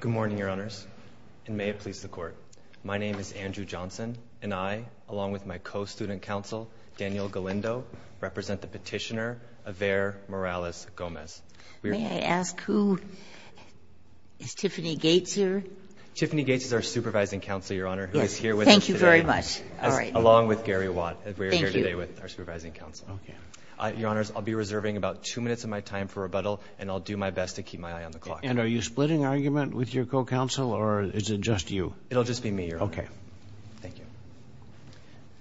Good morning, Your Honors, and may it please the Court. My name is Andrew Johnson, and I, along with my co-student counsel, Daniel Galindo, represent the petitioner, Averre Morales-Gomez. May I ask who is Tiffany Gates here? Tiffany Gates is our supervising counsel, Your Honor, who is here with us today. Thank you very much. All right. Along with Gary Watt. Thank you. We are here today with our supervising counsel. Your Honors, I'll be reserving about two minutes of my time for rebuttal, and I'll do my best to keep my eye on the clock. And are you splitting argument with your co-counsel, or is it just you? It'll just be me, Your Honor. Okay. Thank you.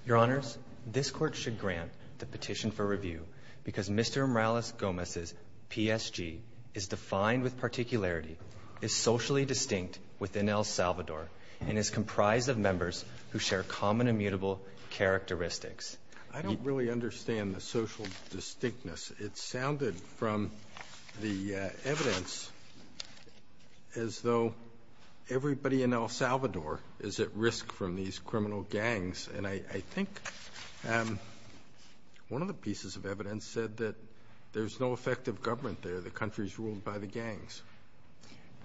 Your Honors, this Court should grant the petition for review because Mr. Morales-Gomez's PSG is defined with particularity, is socially distinct within El Salvador, and is comprised of members who share common immutable characteristics. I don't really understand the social distinctness. It sounded from the evidence as though everybody in El Salvador is at risk from these criminal gangs. And I think one of the pieces of evidence said that there's no effective government there. The country is ruled by the gangs.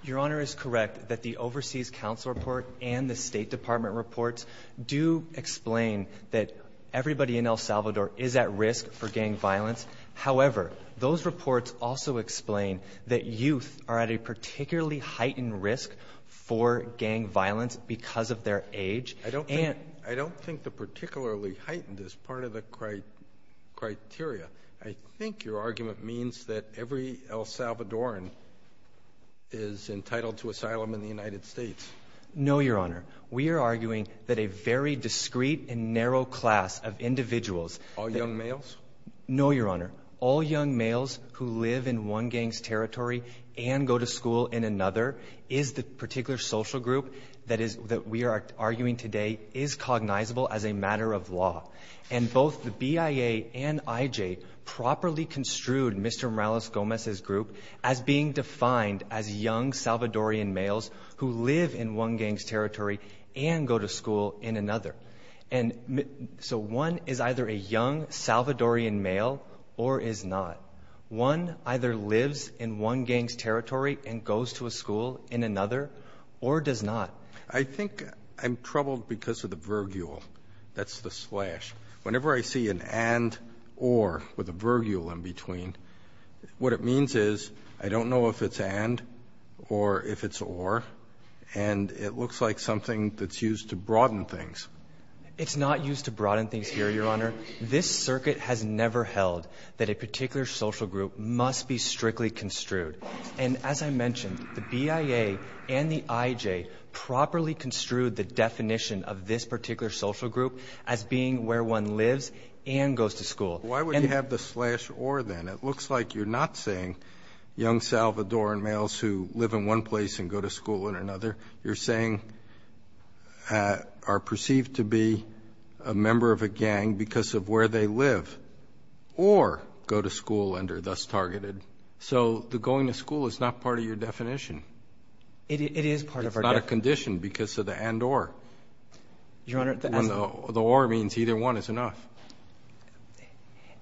Your Honor is correct that the Overseas Counsel report and the State Department reports do explain that everybody in El Salvador is at risk for gang violence. However, those reports also explain that youth are at a particularly heightened risk for gang violence because of their age. I don't think the particularly heightened is part of the criteria. I think your argument means that every El Salvadoran is entitled to asylum in the United States. No, Your Honor. We are arguing that a very discreet and narrow class of individuals. All young males? No, Your Honor. All young males who live in one gang's territory and go to school in another is the particular social group that we are arguing today is cognizable as a matter of law. And both the BIA and IJ properly construed Mr. Morales-Gomez's group as being defined as young Salvadoran males who live in one gang's territory and go to school in another. And so one is either a young Salvadoran male or is not. One either lives in one gang's territory and goes to a school in another or does not. I think I'm troubled because of the virgule. That's the slash. Whenever I see an and or with a virgule in between, what it means is I don't know if it's and or if it's or. And it looks like something that's used to broaden things. It's not used to broaden things here, Your Honor. This circuit has never held that a particular social group must be strictly construed. And as I mentioned, the BIA and the IJ properly construed the definition of this particular social group as being where one lives and goes to school. Why would you have the slash or then? It looks like you're not saying young Salvadoran males who live in one place and go to school in another. You're saying are perceived to be a member of a gang because of where they live or go to school and are thus targeted. So the going to school is not part of your definition. It is part of our definition. It's not a condition because of the and or. Your Honor, the as of. The or means either one is enough.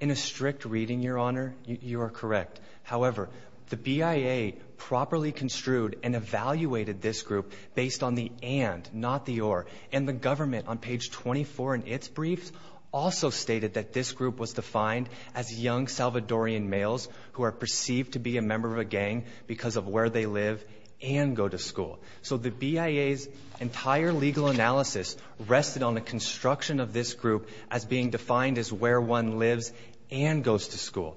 In a strict reading, Your Honor, you are correct. However, the BIA properly construed and evaluated this group based on the and not the or. And the government on page 24 in its briefs also stated that this group was defined as young Salvadoran males who are perceived to be a member of a gang because of where they live and go to school. So the BIA's entire legal analysis rested on the construction of this group as being defined as where one lives and goes to school.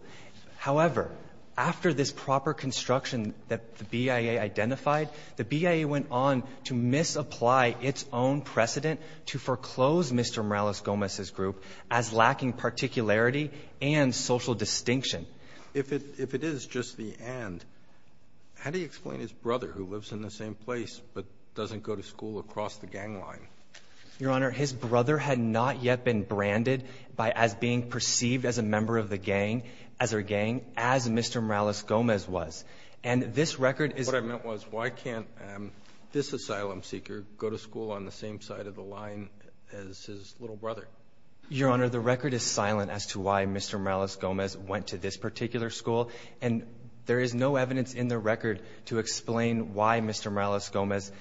However, after this proper construction that the BIA identified, the BIA went on to misapply its own precedent to foreclose Mr. Morales-Gomez's group as lacking particularity and social distinction. If it is just the and, how do you explain his brother who lives in the same place but doesn't go to school across the gang line? Your Honor, his brother had not yet been branded by as being perceived as a member of the gang as a gang as Mr. Morales-Gomez was. And this record is. What I meant was why can't this asylum seeker go to school on the same side of the line as his little brother? Your Honor, the record is silent as to why Mr. Morales-Gomez went to this particular school. And there is no evidence in the record to explain why Mr. Morales-Gomez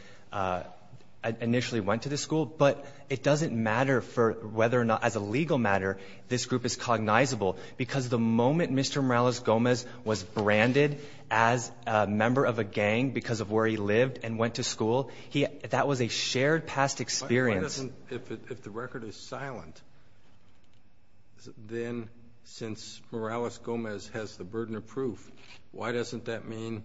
initially went to this school. But it doesn't matter for whether or not, as a legal matter, this group is cognizable because the moment Mr. Morales-Gomez was branded as a member of a gang because of where he lived and went to school, that was a shared past experience. If the record is silent, then since Morales-Gomez has the burden of proof, why doesn't that mean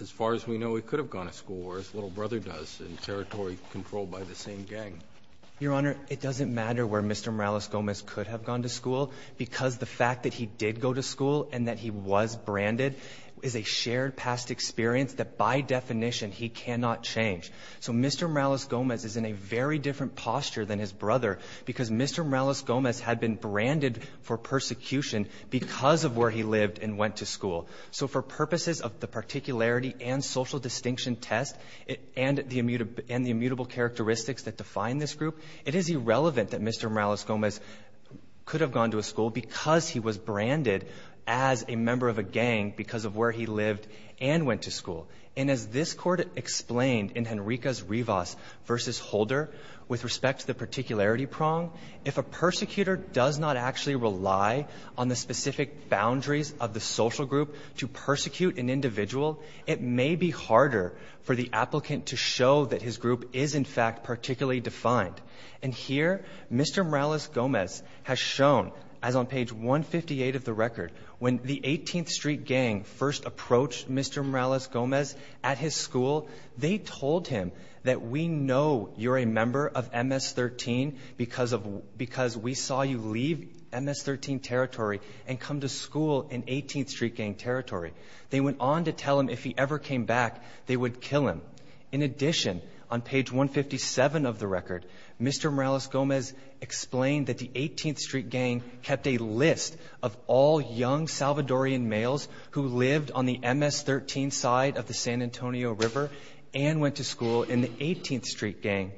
as far as we know he could have gone to school or as little brother does in territory controlled by the same gang? Your Honor, it doesn't matter where Mr. Morales-Gomez could have gone to school because the fact that he did go to school and that he was branded is a shared past experience that by definition he cannot change. So Mr. Morales-Gomez is in a very different posture than his brother because Mr. Morales-Gomez had been branded for persecution because of where he lived and went to school. So for purposes of the particularity and social distinction test and the immutable characteristics that define this group, it is irrelevant that Mr. Morales-Gomez could have gone to a school because he was branded as a member of a gang because of where he lived and went to school. And as this court explained in Henriquez-Rivas v. Holder with respect to the particularity prong, if a persecutor does not actually rely on the specific boundaries of the social group to persecute an individual, it may be harder for the applicant to show that his group is in fact particularly defined. And here, Mr. Morales-Gomez has shown, as on page 158 of the record, when the 18th Street Gang first approached Mr. Morales-Gomez at his school, they told him that we know you're a member of MS-13 because we saw you leave MS-13 territory and come to school in 18th Street Gang territory. They went on to tell him if he ever came back, they would kill him. In addition, on page 157 of the record, Mr. Morales-Gomez explained that the 18th Street Gang was a group of Salvadorian males who lived on the MS-13 side of the San Antonio River and went to school in the 18th Street Gang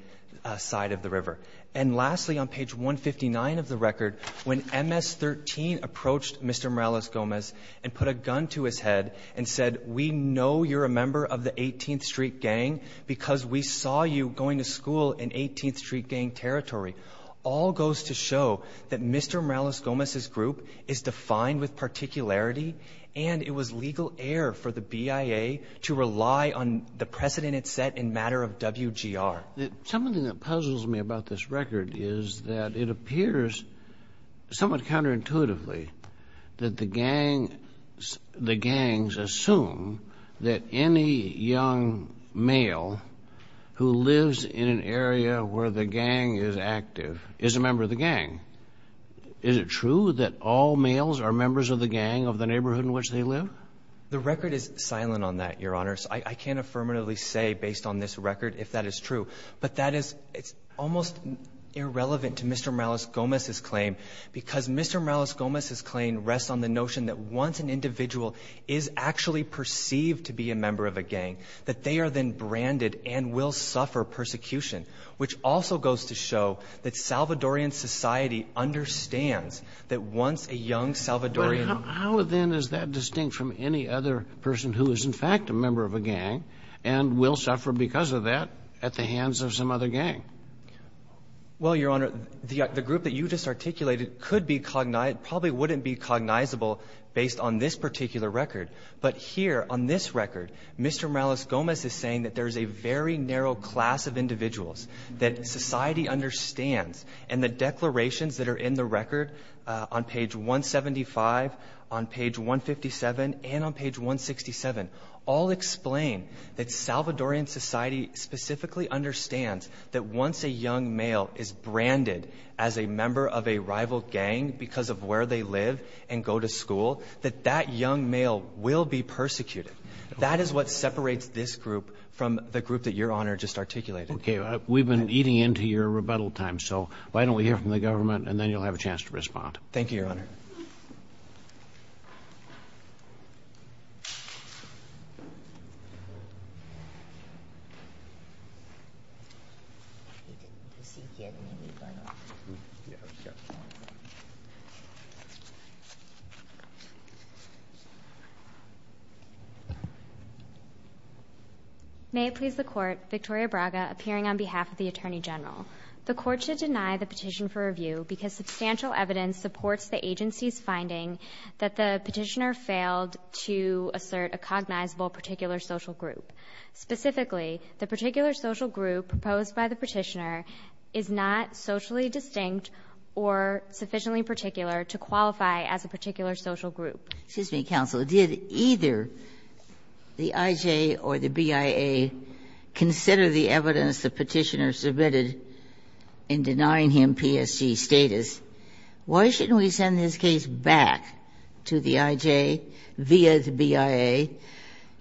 side of the river. And lastly, on page 159 of the record, when MS-13 approached Mr. Morales-Gomez and put a gun to his head and said, we know you're a member of the 18th Street Gang because we saw you going to school in 18th Street Gang territory, all goes to show that Mr. Morales-Gomez was a member of the gang, and that the gang was a member of the gang. And it was a matter of particularity, and it was legal air for the BIA to rely on the precedent it set in matter of WGR. Something that puzzles me about this record is that it appears somewhat counterintuitively that the gang, the gangs assume that any young male who lives in an area where the gang is active is a member of the gang. Is it true that all males are members of the gang of the neighborhood in which they live? The record is silent on that, Your Honors. I can't affirmatively say based on this record if that is true. But that is almost irrelevant to Mr. Morales-Gomez's claim, because Mr. Morales-Gomez's claim rests on the notion that once an individual is actually perceived to be a member of a gang, that Salvadorian society understands that once a young Salvadorian — But how, then, is that distinct from any other person who is, in fact, a member of a gang and will suffer because of that at the hands of some other gang? Well, Your Honor, the group that you just articulated could be — probably wouldn't be cognizable based on this particular record. But here, on this record, Mr. Morales-Gomez is saying that there is a very narrow class of individuals that society understands. And the declarations that are in the record on page 175, on page 157, and on page 167 all explain that Salvadorian society specifically understands that once a young male is branded as a member of a rival gang because of where they live and go to school, that that young male will be persecuted. That is what separates this group from the group that Your Honor just articulated. Okay. We've been eating into your rebuttal time, so why don't we hear from the government and then you'll have a chance to respond. Thank you, Your Honor. May it please the Court, Victoria Braga, appearing on behalf of the Attorney General. The Court should deny the petition for review because substantial evidence supports the agency's finding that the Petitioner failed to assert a cognizable particular social group. Specifically, the particular social group proposed by the Petitioner is not socially distinct or sufficiently particular to qualify as a particular social group. Excuse me, counsel. Did either the IJ or the BIA consider the evidence the Petitioner submitted in denying him PSG status? Why shouldn't we send this case back to the IJ via the BIA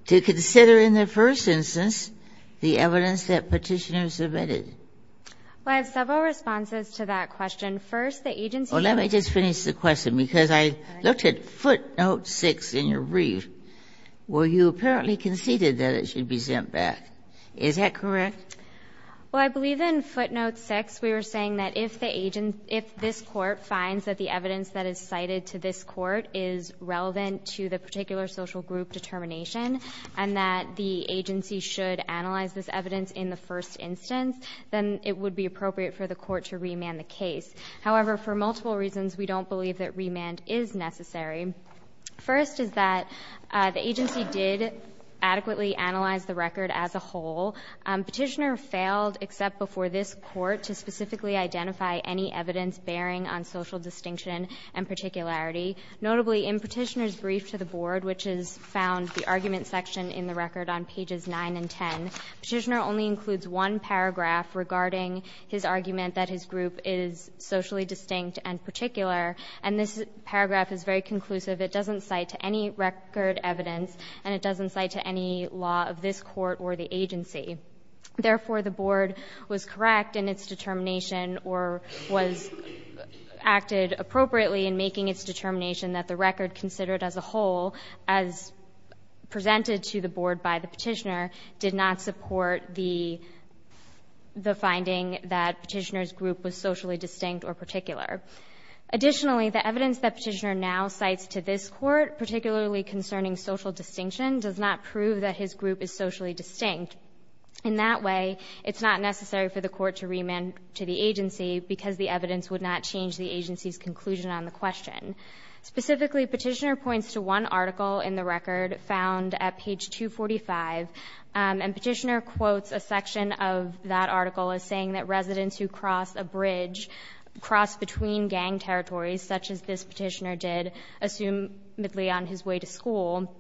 to consider in the first instance the evidence that Petitioner submitted? Well, I have several responses to that question. First, the agency was not the Petitioner. Well, let me just finish the question, because I looked at footnote 6 in your brief where you apparently conceded that it should be sent back. Is that correct? Well, I believe in footnote 6 we were saying that if the agent — if this Court finds that the evidence that is cited to this Court is relevant to the particular social group determination and that the agency should analyze this evidence in the first instance, then it would be appropriate for the Court to remand the case. However, for multiple reasons, we don't believe that remand is necessary. First is that the agency did adequately analyze the record as a whole. Petitioner failed, except before this Court, to specifically identify any evidence bearing on social distinction and particularity. Notably, in Petitioner's brief to the Board, which is found, the argument section in the record on pages 9 and 10, Petitioner only includes one paragraph regarding his argument that his group is socially distinct and particular, and this paragraph is very conclusive. It doesn't cite to any record evidence, and it doesn't cite to any law of this Court or the agency. Therefore, the Board was correct in its determination or was — acted appropriately in making its determination that the record considered as a whole, as presented to the Board by the Petitioner, did not support the — the finding that Petitioner's group was socially distinct or particular. Additionally, the evidence that Petitioner now cites to this Court, particularly concerning social distinction, does not prove that his group is socially distinct. In that way, it's not necessary for the Court to remand to the agency because the evidence would not change the agency's conclusion on the question. Specifically, Petitioner points to one article in the record found at page 245, and Petitioner quotes a section of that article as saying that residents who cross a bridge cross between gang territories, such as this Petitioner did, assumedly on his way to school.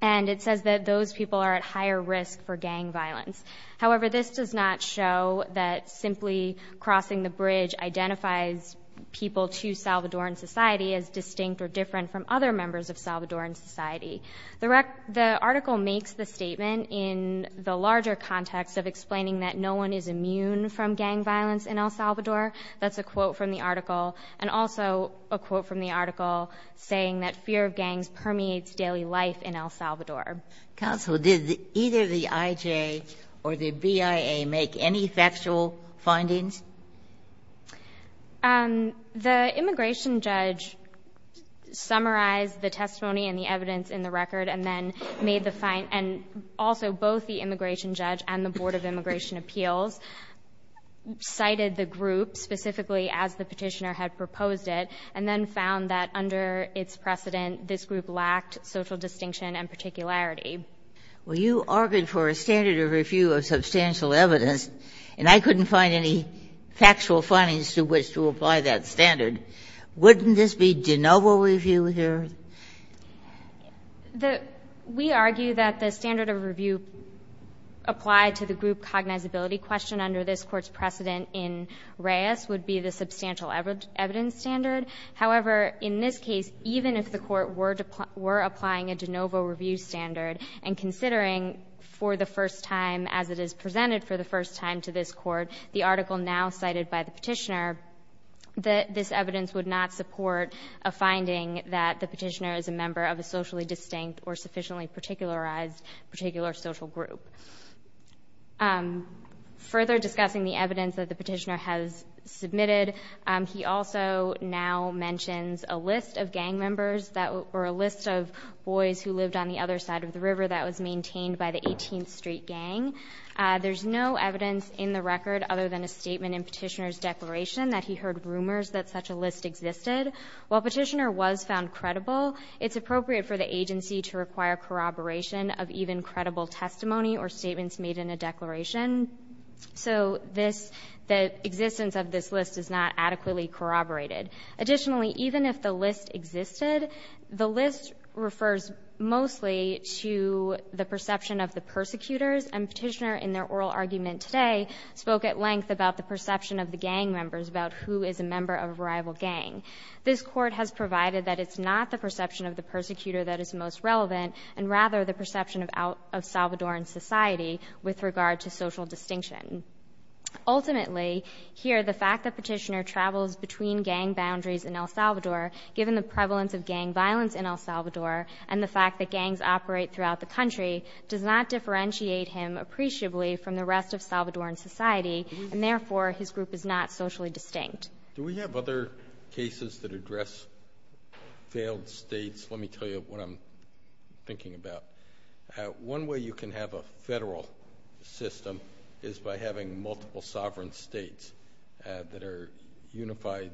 And it says that those people are at higher risk for gang violence. However, this does not show that simply crossing the bridge identifies people to Salvadoran society as distinct or different from other members of Salvadoran society. The article makes the statement in the larger context of explaining that no one is immune from gang violence in El Salvador — that's a quote from the article — and also a quote from the article saying that fear of gangs permeates daily life in El Salvador. Ginsburg, did either the IJ or the BIA make any factual findings? The immigration judge summarized the testimony and the evidence in the record and then made the — and also both the immigration judge and the Board of Immigration Appeals cited the group specifically as the Petitioner had proposed it, and then found that under its precedent, this group lacked social distinction and particularity. Well, you argued for a standard of review of substantial evidence, and I couldn't find any factual findings to which to apply that standard. Wouldn't this be de novo review here? The — we argue that the standard of review applied to the group cognizability question under this Court's precedent in Reyes would be the substantial evidence standard. However, in this case, even if the Court were applying a de novo review standard and considering for the first time, as it is presented for the first time to this Court, the article now cited by the Petitioner, this evidence would not support a finding that the Petitioner is a member of a socially distinct or sufficiently particularized particular social group. Further discussing the evidence that the Petitioner has submitted, he also now mentions a list of gang members that — or a list of boys who lived on the other side of the river that was maintained by the 18th Street Gang. There's no evidence in the record other than a statement in Petitioner's declaration that he heard rumors that such a list existed. While Petitioner was found credible, it's appropriate for the agency to require corroboration of even credible testimony or statements made in a declaration. So this — the existence of this list is not adequately corroborated. Additionally, even if the list existed, the list refers mostly to the perception of the persecutors, and Petitioner in their oral argument today spoke at length about the perception of the gang members, about who is a member of a rival gang. This Court has provided that it's not the perception of the persecutor that is most relevant, and rather the perception of Salvadoran society with regard to social distinction. Ultimately, here, the fact that Petitioner travels between gang boundaries in El Salvador, given the prevalence of gang violence in El Salvador, and the fact that gangs operate throughout the country, does not differentiate him appreciably from the rest of Salvadoran society, and therefore his group is not socially distinct. Do we have other cases that address failed states? Let me tell you what I'm thinking about. One way you can have a federal system is by having multiple sovereign states that are unified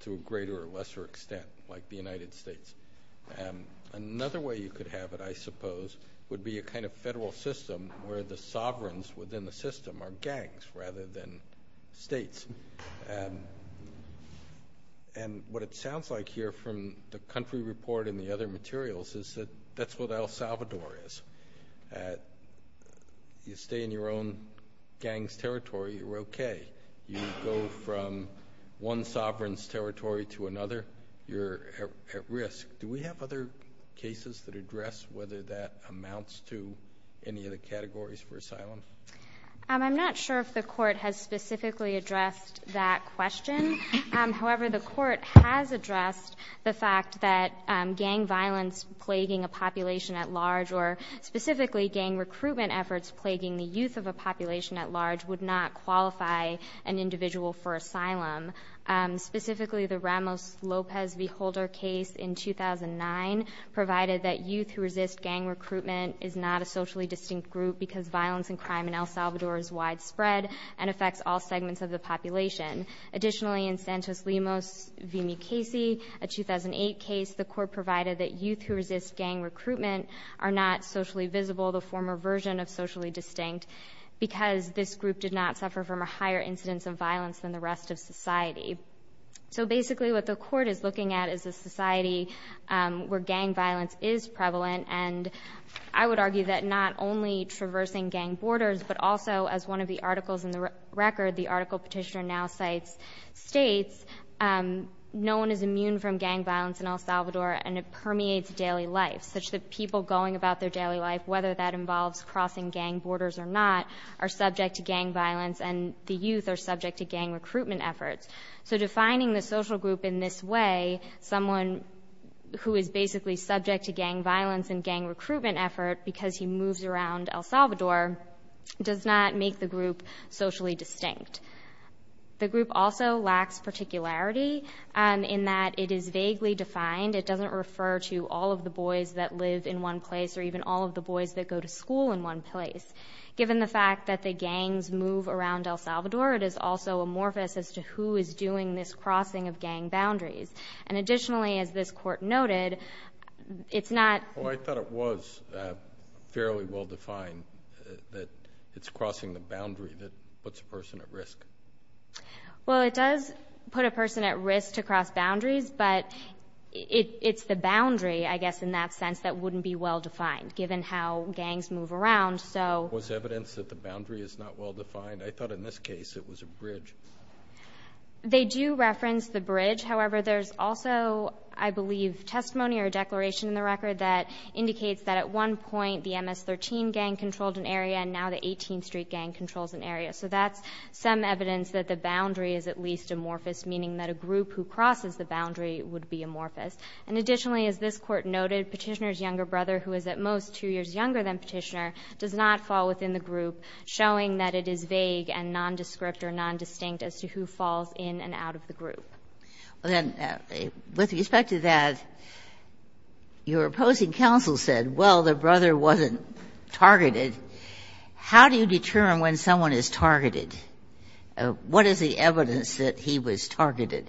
to a greater or lesser extent, like the United States. Another way you could have it, I suppose, would be a kind of federal system where the sovereigns within the system are gangs rather than states. What it sounds like here, from the country report and the other materials, is that that's what El Salvador is. You stay in your own gang's territory, you're okay. You go from one sovereign's territory to another, you're at risk. Do we have other cases that address whether that amounts to any of the categories for asylum? I'm not sure if the court has specifically addressed that question. However, the court has addressed the fact that gang violence plaguing a population at large, or specifically gang recruitment efforts plaguing the youth of a population at large, would not qualify an individual for asylum. Specifically the Ramos-Lopez v. Holder case in 2009 provided that youth who resist gang recruitment is not a socially distinct group because violence and crime in El Salvador is widespread and affects all segments of the population. Additionally, in Santos-Limos v. Mukasey, a 2008 case, the court provided that youth who resist gang recruitment are not socially visible, the former version of socially distinct, because this group did not suffer from a higher incidence of violence than the rest of society. So basically what the court is looking at is a society where gang violence is prevalent, and I would argue that not only traversing gang borders, but also, as one of the articles in the record, the article petitioner now cites, states, no one is immune from gang violence in El Salvador, and it permeates daily life, such that people going about their daily life, whether that involves crossing gang borders or not, are subject to gang violence and the youth are subject to gang recruitment efforts. So defining the social group in this way, someone who is basically subject to gang violence and gang recruitment effort because he moves around El Salvador, does not make the group socially distinct. The group also lacks particularity in that it is vaguely defined, it doesn't refer to all of the boys that live in one place or even all of the boys that go to school in one place. Given the fact that the gangs move around El Salvador, it is also amorphous as to who is doing this crossing of gang boundaries. And additionally, as this court noted, it's not... Oh, I thought it was fairly well defined that it's crossing the boundary that puts a person at risk. Well, it does put a person at risk to cross boundaries, but it's the boundary, I guess, in that sense that wouldn't be well defined, given how gangs move around. So... Was evidence that the boundary is not well defined? I thought in this case it was a bridge. They do reference the bridge. However, there's also, I believe, testimony or a declaration in the record that indicates that at one point the MS-13 gang controlled an area and now the 18th Street gang controls an area. So that's some evidence that the boundary is at least amorphous, meaning that a group who crosses the boundary would be amorphous. And additionally, as this Court noted, Petitioner's younger brother, who is at most two years younger than Petitioner, does not fall within the group, showing that it is vague and nondescript or nondistinct as to who falls in and out of the group. Well, then, with respect to that, your opposing counsel said, well, the brother wasn't targeted. How do you determine when someone is targeted? What is the evidence that he was targeted?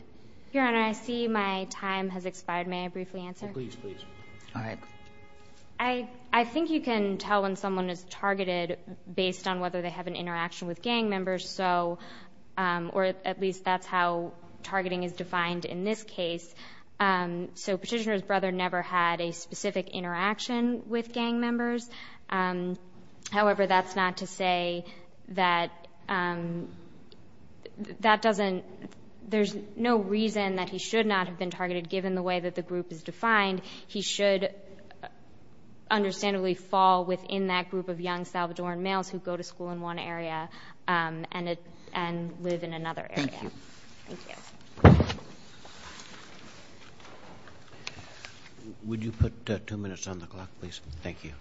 Your Honor, I see my time has expired. May I briefly answer? Please, please. All right. I think you can tell when someone is targeted based on whether they have an interaction with gang members, or at least that's how targeting is defined in this case. So Petitioner's brother never had a specific interaction with gang members. However, that's not to say that that doesn't—there's no reason that he should not have been targeted, given the way that the group is defined. He should understandably fall within that group of young Salvadoran males who go to school in one area and live in another area. Thank you. Thank you. Would you put two minutes on the clock, please? Thank you.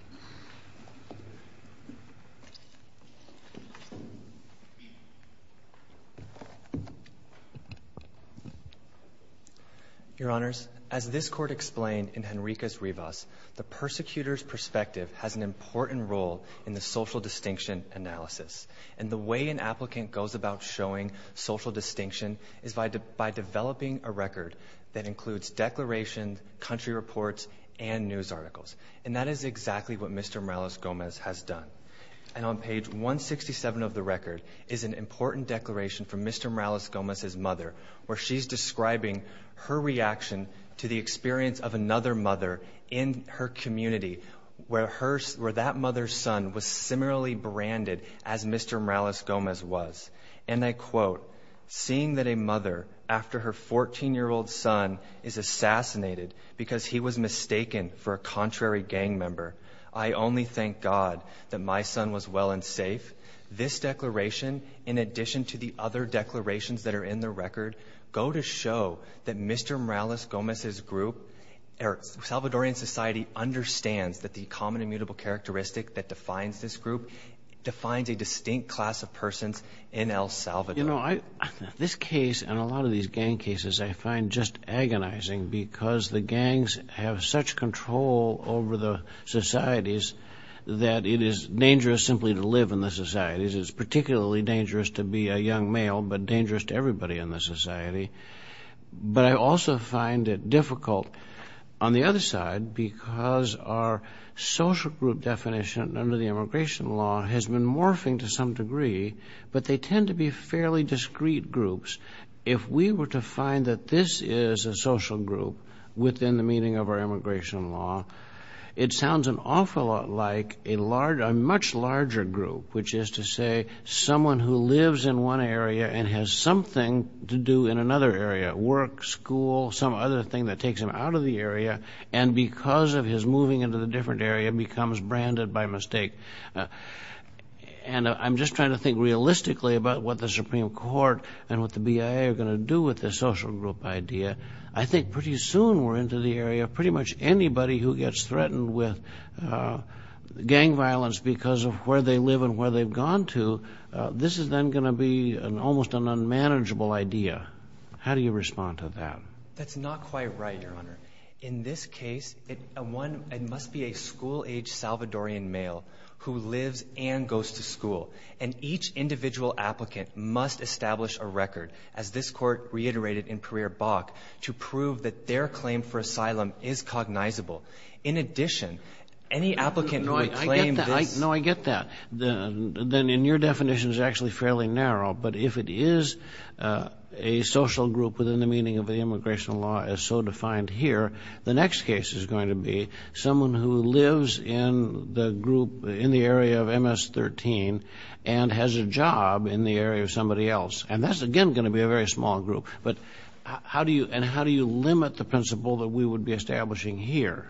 Your Honors, as this Court explained in Henriquez-Rivas, the persecutor's perspective has an important role in the social distinction analysis. And the way an applicant goes about showing social distinction is by developing a record that includes declarations, country reports, and news articles. And that is exactly what Mr. Morales-Gomez has done. And on page 167 of the record is an important declaration from Mr. Morales-Gomez's mother, where she's describing her reaction to the experience of another mother in her community, where that mother's son was similarly branded as Mr. Morales-Gomez was. And I quote, seeing that a mother, after her 14-year-old son is assassinated because he was mistaken for a contrary gang member, I only thank God that my son was well and safe. This declaration, in addition to the other declarations that are in the record, go to show that Mr. Morales-Gomez's group, or Salvadoran society, understands that the common immutable characteristic that defines this group defines a distinct class of persons in El Salvador. You know, this case and a lot of these gang cases I find just agonizing because the gangs have such control over the societies that it is dangerous simply to live in the societies. It's particularly dangerous to be a young male, but dangerous to everybody in the society. But I also find it difficult, on the other side, because our social group definition under the immigration law has been morphing to some degree, but they tend to be fairly discrete groups. If we were to find that this is a social group within the meaning of our immigration law, it sounds an awful lot like a much larger group, which is to say, someone who lives in one area and has something to do in another area, work, school, some other thing that takes him out of the area, and because of his moving into the different area, becomes branded by mistake. And I'm just trying to think realistically about what the Supreme Court and what the BIA are going to do with this social group idea. I think pretty soon we're into the area of pretty much anybody who gets threatened with gang violence because of where they live and where they've gone to, this is then going to be almost an unmanageable idea. How do you respond to that? That's not quite right, Your Honor. In this case, it must be a school-age Salvadorian male who lives and goes to school, and each individual applicant must establish a record, as this Court reiterated in Pereira-Bach, to prove that their claim for asylum is cognizable. In addition, any applicant who would claim this— No, I get that. No, I get that. Then, and your definition is actually fairly narrow, but if it is a social group within the meaning of the immigration law as so defined here, the next case is going to be someone who lives in the group, in the area of MS-13, and has a job in the area of somebody And that's, again, going to be a very small group. But how do you—and how do you limit the principle that we would be establishing here?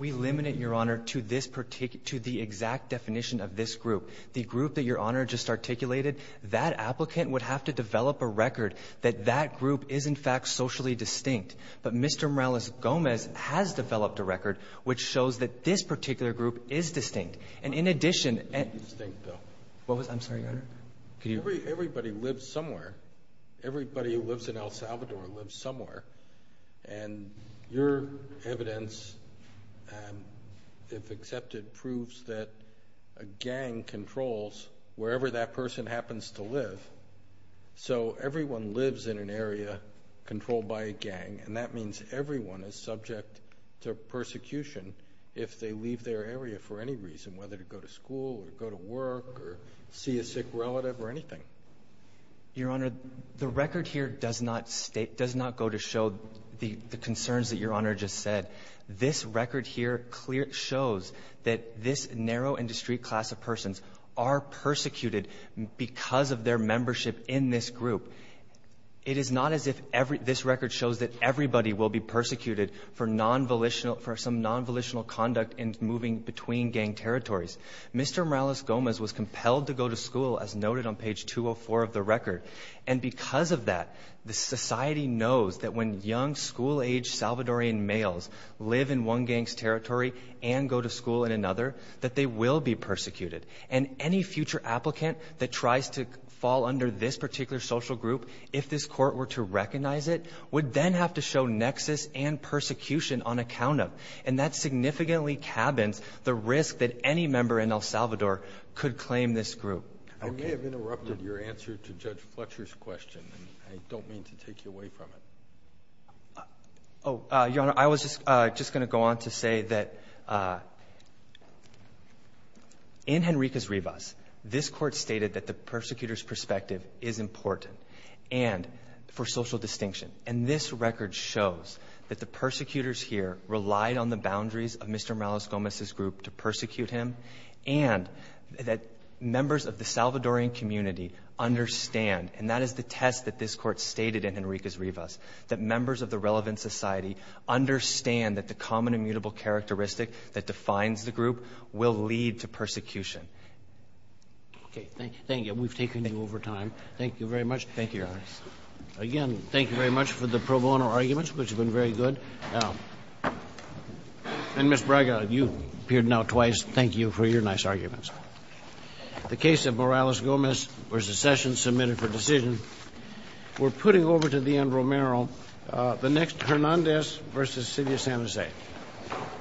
We limit it, Your Honor, to this particular—to the exact definition of this group. The group that Your Honor just articulated, that applicant would have to develop a record that that group is, in fact, socially distinct. But Mr. Morales-Gomez has developed a record which shows that this particular group is distinct. And in addition— It may be distinct, though. What was—I'm sorry, Your Honor? Could you— Everybody lives somewhere. Everybody who lives in El Salvador lives somewhere. And your evidence, if accepted, proves that a gang controls wherever that person happens to live. So, everyone lives in an area controlled by a gang, and that means everyone is subject to persecution if they leave their area for any reason, whether to go to school or go to work or see a sick relative or anything. Your Honor, the record here does not go to show the concerns that Your Honor just said. This record here shows that this narrow industry class of persons are persecuted because of their membership in this group. It is not as if this record shows that everybody will be persecuted for some non-volitional conduct in moving between gang territories. Mr. Morales-Gomez was compelled to go to school, as noted on page 204 of the record. And because of that, the society knows that when young school-age Salvadorian males live in one gang's territory and go to school in another, that they will be persecuted. And any future applicant that tries to fall under this particular social group, if this Court were to recognize it, would then have to show nexus and persecution on account of. And that significantly cabins the risk that any member in El Salvador could claim this group. I may have interrupted your answer to Judge Fletcher's question. I don't mean to take you away from it. Oh, Your Honor, I was just going to go on to say that in Henriquez-Rivas, this Court stated that the persecutor's perspective is important and for social distinction. And this record shows that the persecutors here relied on the boundaries of Mr. Morales-Gomez's group to persecute him and that members of the Salvadorian community understand. And that is the test that this Court stated in Henriquez-Rivas, that members of the relevant society understand that the common immutable characteristic that defines the group will lead to persecution. Okay. Thank you. Thank you. We've taken you over time. Thank you very much. Thank you, Your Honor. Again, thank you very much for the pro bono arguments, which have been very good. And Ms. Braga, you appeared now twice. Thank you for your nice arguments. The case of Morales-Gomez v. Sessions, submitted for decision. We're putting over to Dianne Romero the next Hernandez v. Silvia San Jose.